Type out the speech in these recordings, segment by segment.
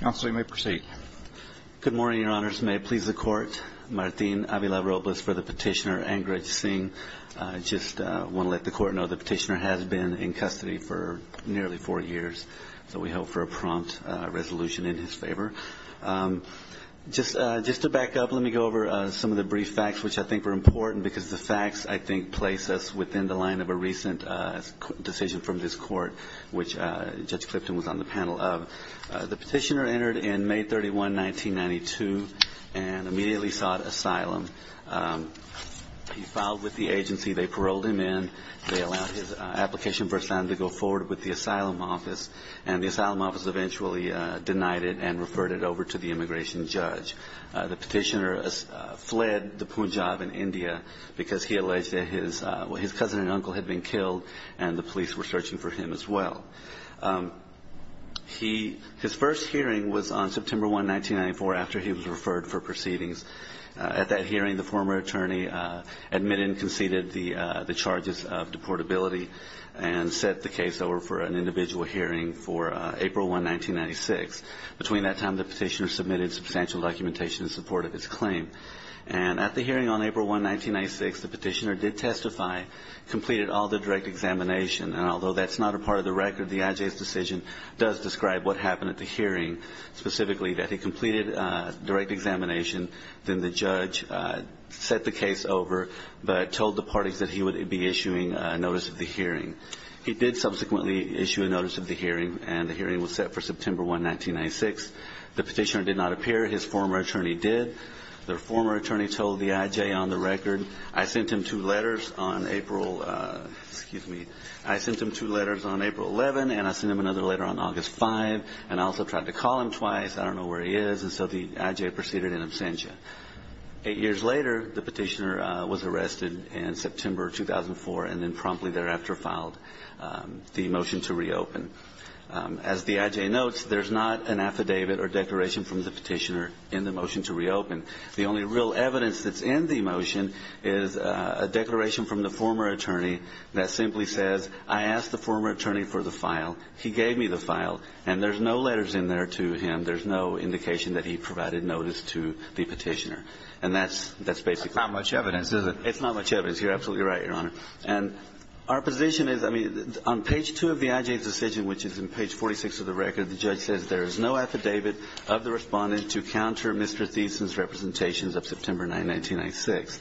Council, you may proceed. Good morning, Your Honors. May it please the Court. Martin Avila-Robles for the petitioner, Angraj Singh. I just want to let the Court know the petitioner has been in custody for nearly four years, so we hope for a prompt resolution in his favor. Just to back up, let me go over some of the brief facts, which I think are important, because the facts, I think, place us within the line of a recent decision from this Court, which Judge Clifton was on the panel of. The petitioner entered in May 31, 1992 and immediately sought asylum. He filed with the agency. They paroled him in. They allowed his application for asylum to go forward with the asylum office, and the asylum office eventually denied it and referred it over to the immigration judge. The petitioner fled the Punjab in India because he alleged that his cousin and uncle had been killed, and the police were searching for him as well. His first hearing was on September 1, 1994, after he was referred for proceedings. At that hearing, the former attorney admitted and conceded the charges of deportability and set the case over for an individual hearing for April 1, 1996. Between that time, the petitioner submitted substantial documentation in support of his claim. At the hearing on April 1, 1996, the petitioner did testify, completed all the direct examination, and although that's not a part of the record, the IJ's decision does describe what happened at the hearing, specifically that he completed direct examination, then the judge set the case over, but told the parties that he would be issuing notice of the hearing. He did subsequently issue a notice of the hearing, and the hearing was set for September 1, 1996. The petitioner did not appear. His former attorney did. The former attorney told the IJ on the record, I sent him two letters on April, excuse me, I sent him two letters on April 11, and I sent him another letter on August 5, and I also tried to call him twice. I don't know where he is, and so the IJ proceeded in absentia. Eight years later, the petitioner was arrested in September 2004, and then promptly thereafter filed the motion to reopen. As the IJ notes, there's not an affidavit or declaration from the petitioner in the motion to reopen. The only real evidence that's in the motion is a declaration from the former attorney that simply says, I asked the former attorney for the file. He gave me the file. And there's no letters in there to him. There's no indication that he provided notice to the petitioner. And that's basically it. It's not much evidence. You're absolutely right, Your Honor. And our position is, I mean, on page two of the IJ's decision, which is in page 46 of the record, the judge says there is no affidavit of the respondent to counter Mr. Thiessen's case in November 1996.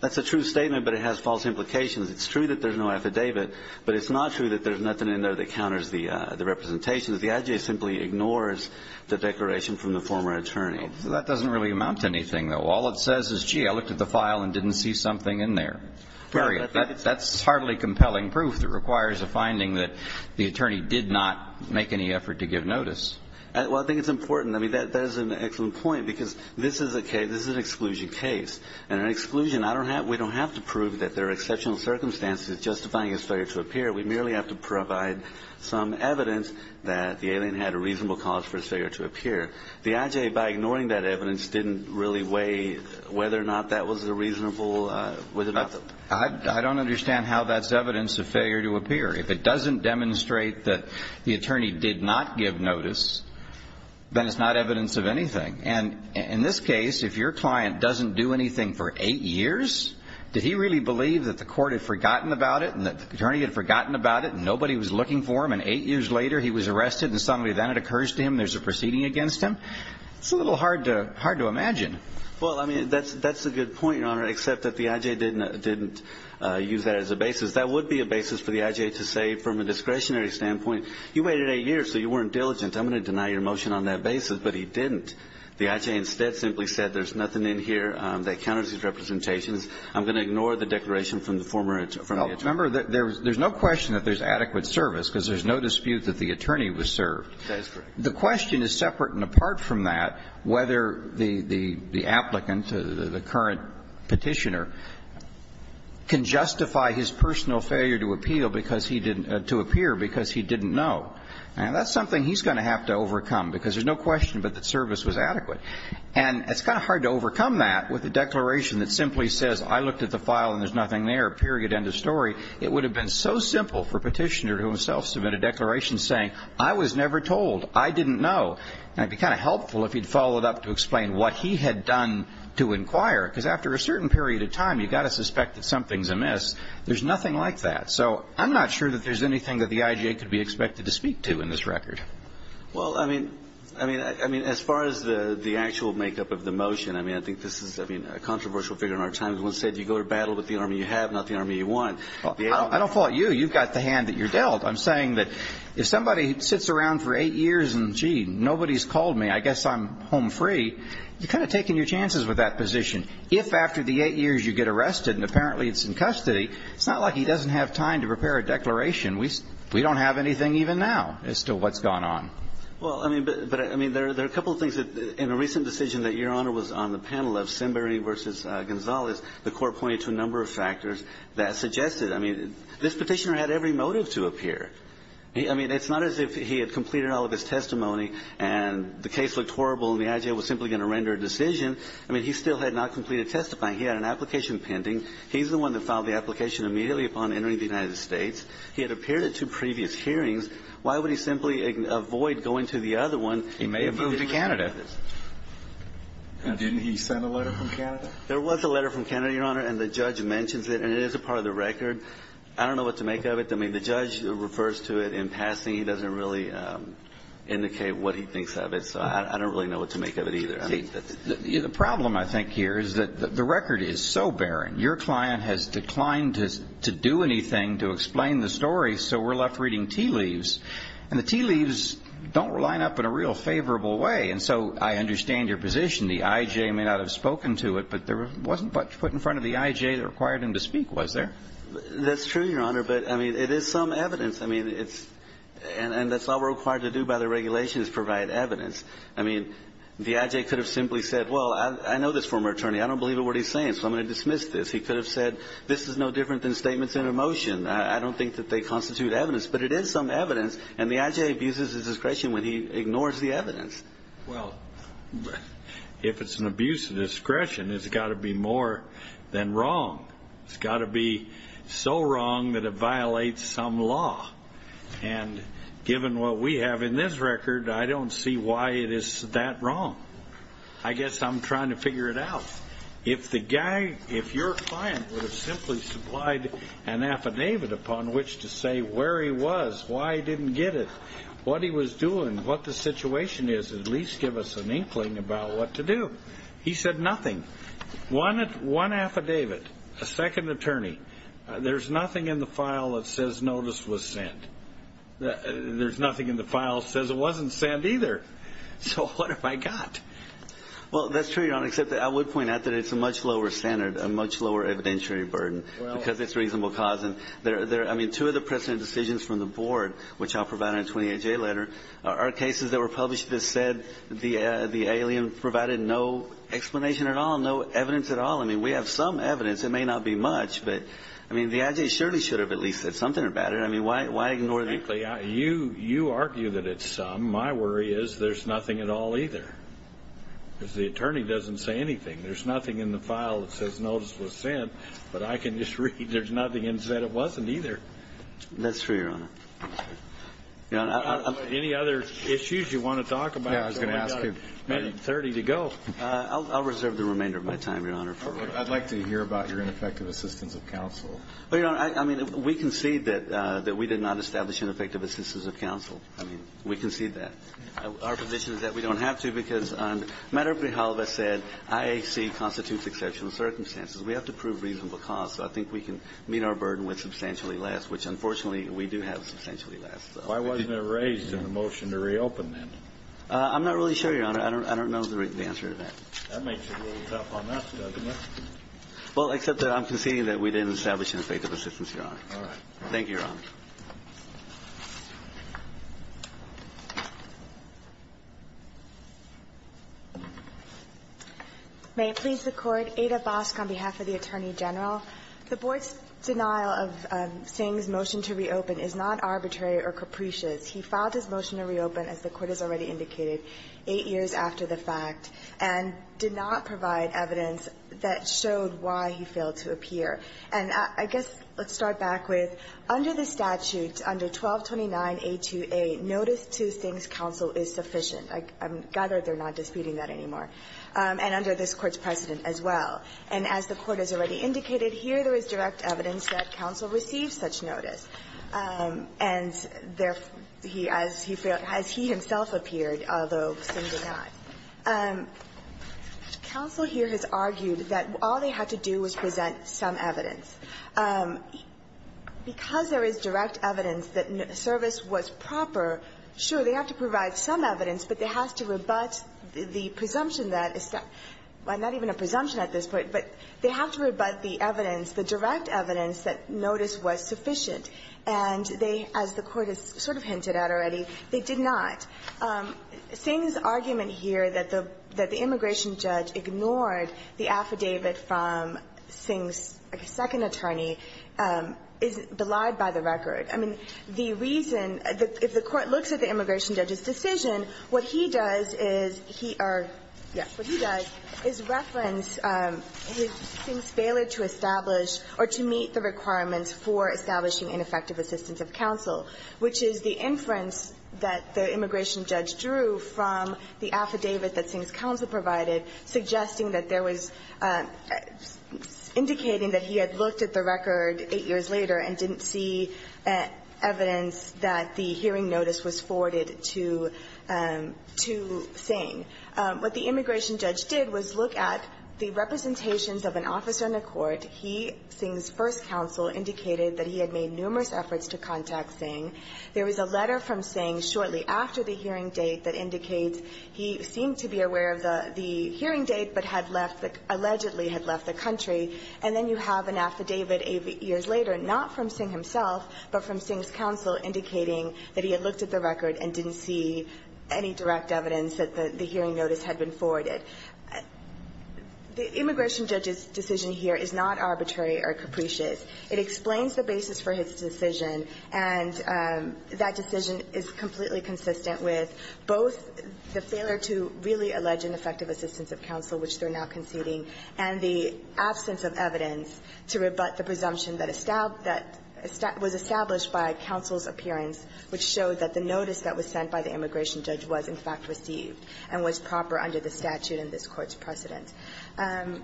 That's a true statement, but it has false implications. It's true that there's no affidavit, but it's not true that there's nothing in there that counters the representation. The IJ simply ignores the declaration from the former attorney. So that doesn't really amount to anything, though. All it says is, gee, I looked at the file and didn't see something in there. Period. That's hardly compelling proof that requires a finding that the attorney did not make any effort to give notice. Well, I think it's important. I mean, that is an excellent point, because this is a case, this is an exclusion case. And an exclusion, I don't have, we don't have to prove that there are exceptional circumstances justifying his failure to appear. We merely have to provide some evidence that the alien had a reasonable cause for his failure to appear. The IJ, by ignoring that evidence, didn't really weigh whether or not that was a reasonable, whether or not the... I don't understand how that's evidence of failure to appear. If it doesn't demonstrate that the attorney did not give notice, then it's not evidence of anything. And in this case, if your client doesn't do anything for eight years, did he really believe that the court had forgotten about it and that the attorney had forgotten about it and nobody was looking for him, and eight years later he was arrested and suddenly then it occurs to him there's a proceeding against him? It's a little hard to imagine. Well, I mean, that's a good point, Your Honor, except that the IJ didn't use that as a basis. That would be a basis for the IJ to say, from a discretionary standpoint, you waited eight years so you could have an opinion on that basis, but he didn't. The IJ instead simply said there's nothing in here that counters his representations. I'm going to ignore the declaration from the former attorney. Remember, there's no question that there's adequate service because there's no dispute that the attorney was served. That is correct. The question is separate and apart from that whether the applicant, the current Petitioner, can justify his personal failure to appeal because he didn't, to appear because he didn't know. And that's something he's going to have to overcome because there's no question but that service was adequate. And it's kind of hard to overcome that with a declaration that simply says, I looked at the file and there's nothing there, period, end of story. It would have been so simple for Petitioner to himself submit a declaration saying, I was never told. I didn't know. And it would be kind of helpful if he'd follow it up to explain what he had done to inquire because after a certain period of time you've got to suspect that something's amiss. There's nothing like that. So I'm not sure that there's anything that the IJ could be expected to speak to in this record. Well, I mean, I mean, as far as the actual makeup of the motion, I mean, I think this is, I mean, a controversial figure in our time who once said you go to battle with the army you have, not the army you want. I don't fault you. You've got the hand that you're dealt. I'm saying that if somebody sits around for eight years and, gee, nobody's called me, I guess I'm home free, you're kind of taking your chances with that position. If after the eight years you get arrested and apparently it's in custody, it's not like he doesn't have time to prepare a declaration. We don't have anything even now as to what's gone on. Well, I mean, but I mean, there are a couple of things that in a recent decision that Your Honor was on the panel of Simbery v. Gonzalez, the Court pointed to a number of factors that suggested, I mean, this Petitioner had every motive to appear. I mean, it's not as if he had completed all of his testimony and the case looked horrible and the IJ was simply going to render a decision. I mean, he still had not completed testifying. He had an application pending. He's the one that filed the application immediately upon entering the United States. He had appeared at two previous hearings. Why would he simply avoid going to the other one? He may have moved to Canada. And didn't he send a letter from Canada? There was a letter from Canada, Your Honor, and the judge mentions it. And it is a part of the record. I don't know what to make of it. I mean, the judge refers to it in passing. He doesn't really indicate what he thinks of it. So I don't really know what to make of it either. The problem, I think, here is that the record is so barren. Your client has declined to do anything to explain the story, so we're left reading tea leaves. And the tea leaves don't line up in a real favorable way. And so I understand your position. The IJ may not have spoken to it, but there wasn't much put in front of the IJ that required him to speak, was there? That's true, Your Honor. But, I mean, it is some evidence. I mean, it's – and that's all we're required to do by the regulations, provide evidence. I mean, the IJ could have simply said, well, I know this former attorney. I don't believe a word he's saying, so I'm going to dismiss this. He could have said, this is no different than statements in a motion. I don't think that they constitute evidence. But it is some evidence. And the IJ abuses his discretion when he ignores the evidence. Well, if it's an abuse of discretion, it's got to be more than wrong. It's got to be so wrong that it violates some law. And given what we have in this record, I don't see why it is that wrong. I guess I'm trying to figure it out. If the guy, if your client would have simply supplied an affidavit upon which to say where he was, why he didn't get it, what he was doing, what the situation is, at least give us an inkling about what to do. He said nothing. One affidavit, a second attorney. There's nothing in the file that says notice was sent. There's nothing in the file that says it wasn't sent either. So what have I got? Well, that's true, Your Honor, except I would point out that it's a much lower standard, a much lower evidentiary burden because it's reasonable cause. I mean, two of the precedent decisions from the board, which I'll provide in a 28-J letter, are cases that were published that said the alien provided no explanation at all, no evidence at all. I mean, we have some evidence. It may not be much, but, I mean, the I.J. Shirley should have at least said something about it. I mean, why ignore it? You argue that it's some. My worry is there's nothing at all either because the attorney doesn't say anything. There's nothing in the file that says notice was sent, but I can just read there's nothing that said it wasn't either. That's true, Your Honor. Any other issues you want to talk about? Yeah, I was going to ask you. We've got a minute and 30 to go. I'll reserve the remainder of my time, Your Honor. I'd like to hear about your ineffective assistance of counsel. Well, Your Honor, I mean, we concede that we did not establish ineffective assistance of counsel. I mean, we concede that. Our position is that we don't have to because on the matter of Brijalva said IAC constitutes exceptional circumstances. We have to prove reasonable cause, so I think we can meet our burden with substantially less, which, unfortunately, we do have substantially less. Why wasn't it raised in the motion to reopen then? I'm not really sure, Your Honor. I don't know the answer to that. That makes it a little tough on us, doesn't it? Well, except that I'm conceding that we didn't establish ineffective assistance, Your Honor. All right. Thank you, Your Honor. May it please the Court. Ada Bosk on behalf of the Attorney General. The Board's denial of Singh's motion to reopen is not arbitrary or capricious. He filed his motion to reopen, as the Court has already indicated, 8 years after the fact. And did not provide evidence that showed why he failed to appear. And I guess let's start back with, under the statute, under 1229A2A, notice to Singh's counsel is sufficient. I'm glad that they're not disputing that anymore. And under this Court's precedent as well. And as the Court has already indicated, here there is direct evidence that counsel received such notice. And therefore, he, as he failed, as he himself appeared, although Singh did not. Counsel here has argued that all they had to do was present some evidence. Because there is direct evidence that service was proper, sure, they have to provide some evidence, but they have to rebut the presumption that, not even a presumption at this point, but they have to rebut the evidence, the direct evidence that notice was sufficient. And they, as the Court has sort of hinted at already, they did not. Singh's argument here that the immigration judge ignored the affidavit from Singh's second attorney is belied by the record. I mean, the reason, if the Court looks at the immigration judge's decision, what he does is he or, yes, what he does is reference Singh's failure to establish or to meet the requirements for establishing ineffective assistance of counsel, which is the inference that the immigration judge drew from the affidavit that Singh's counsel provided, suggesting that there was indicating that he had looked at the record 8 years later and didn't see evidence that the hearing notice was forwarded to Singh. What the immigration judge did was look at the representations of an officer in a court. And he, Singh's first counsel, indicated that he had made numerous efforts to contact Singh. There was a letter from Singh shortly after the hearing date that indicates he seemed to be aware of the hearing date, but had left, allegedly had left the country. And then you have an affidavit 8 years later, not from Singh himself, but from Singh's counsel, indicating that he had looked at the record and didn't see any direct evidence that the hearing notice had been forwarded. The immigration judge's decision here is not arbitrary or capricious. It explains the basis for his decision, and that decision is completely consistent with both the failure to really allege ineffective assistance of counsel, which they're now conceding, and the absence of evidence to rebut the presumption that was established by counsel's appearance, which showed that the notice that was in fact received and was proper under the statute in this Court's precedent. I'm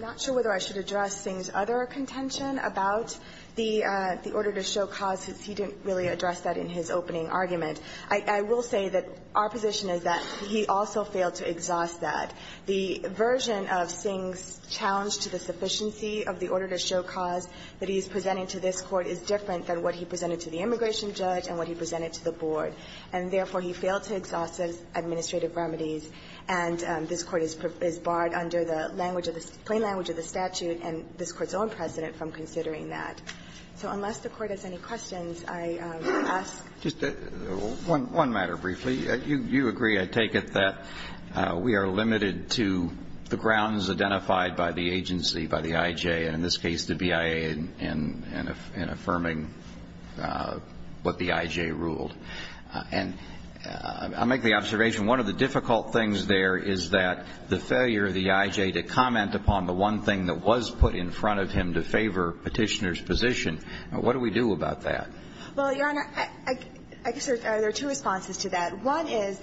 not sure whether I should address Singh's other contention about the order to show cause, since he didn't really address that in his opening argument. I will say that our position is that he also failed to exhaust that. The version of Singh's challenge to the sufficiency of the order to show cause that he is presenting to this Court is different than what he presented to the immigration judge and what he presented to the board. And therefore, he failed to exhaust those administrative remedies, and this Court is barred under the language of the plain language of the statute and this Court's own precedent from considering that. So unless the Court has any questions, I ask. Just one matter briefly. You agree, I take it, that we are limited to the grounds identified by the agency, by the I.J., and in this case, the BIA, in affirming what the I.J. ruled. And I'll make the observation, one of the difficult things there is that the failure of the I.J. to comment upon the one thing that was put in front of him to favor Petitioner's position. What do we do about that? Well, Your Honor, I guess there are two responses to that. One is,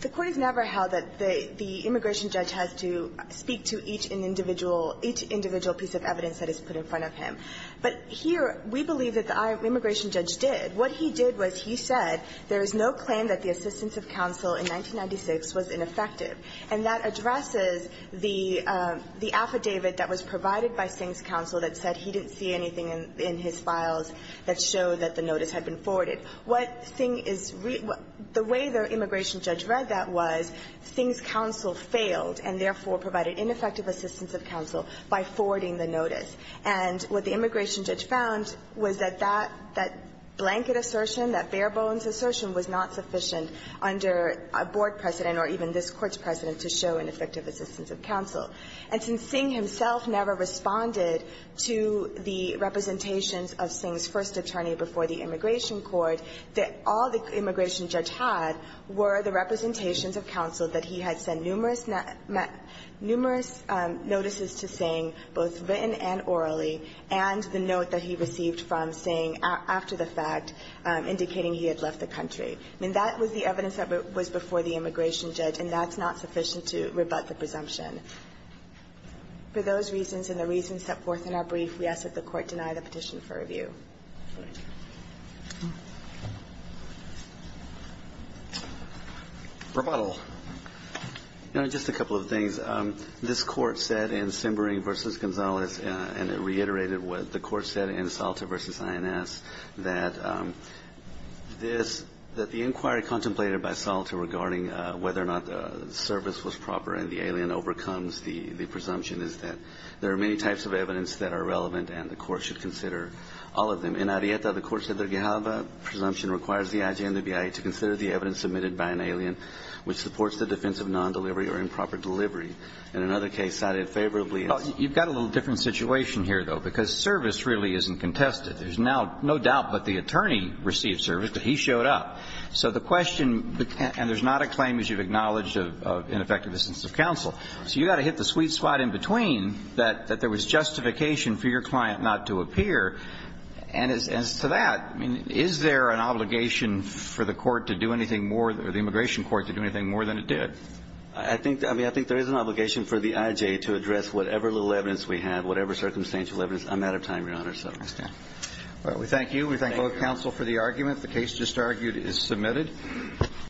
the Court has never held that the immigration judge has to speak to each individual piece of evidence that is put in front of him. But here, we believe that the immigration judge did. What he did was he said there is no claim that the assistance of counsel in 1996 was ineffective. And that addresses the affidavit that was provided by Singh's counsel that said he didn't see anything in his files that showed that the notice had been forwarded. What Singh is really the way the immigration judge read that was Singh's counsel failed and therefore provided ineffective assistance of counsel by forwarding the notice. And what the immigration judge found was that that blanket assertion, that bare-bones assertion was not sufficient under a board precedent or even this Court's precedent to show ineffective assistance of counsel. And since Singh himself never responded to the representations of Singh's first attorney before the immigration court, all the immigration judge had were the representations of counsel that he had sent numerous notices to Singh, both written and oral, and the note that he received from Singh after the fact indicating he had left the country. I mean, that was the evidence that was before the immigration judge, and that's not sufficient to rebut the presumption. For those reasons and the reasons set forth in our brief, we ask that the Court deny the petition for review. Roberts. You know, just a couple of things. This Court said in Simbering v. Gonzales, and it reiterated what the Court said in Salta v. INS, that this, that the inquiry contemplated by Salta regarding whether or not the service was proper and the alien overcomes the presumption is that there are many types of evidence that are relevant and the Court should consider all of them. In Arieta, the Court said the Gehalva presumption requires the IG and the BIA to support the defense of non-delivery or improper delivery. In another case, cited favorably in the case of Singh v. Gonzales, there is no doubt that the attorney received service, that he showed up. So the question, and there's not a claim, as you've acknowledged, of ineffective assistance of counsel. So you've got to hit the sweet spot in between that there was justification for your client not to appear. And as to that, I mean, is there an obligation for the Court to do anything more, or the immigration court to do anything more than it did? I think, I mean, I think there is an obligation for the IG to address whatever little evidence we have, whatever circumstantial evidence. I'm out of time, Your Honor, so. All right, we thank you. We thank both counsel for the argument. The case just argued is submitted.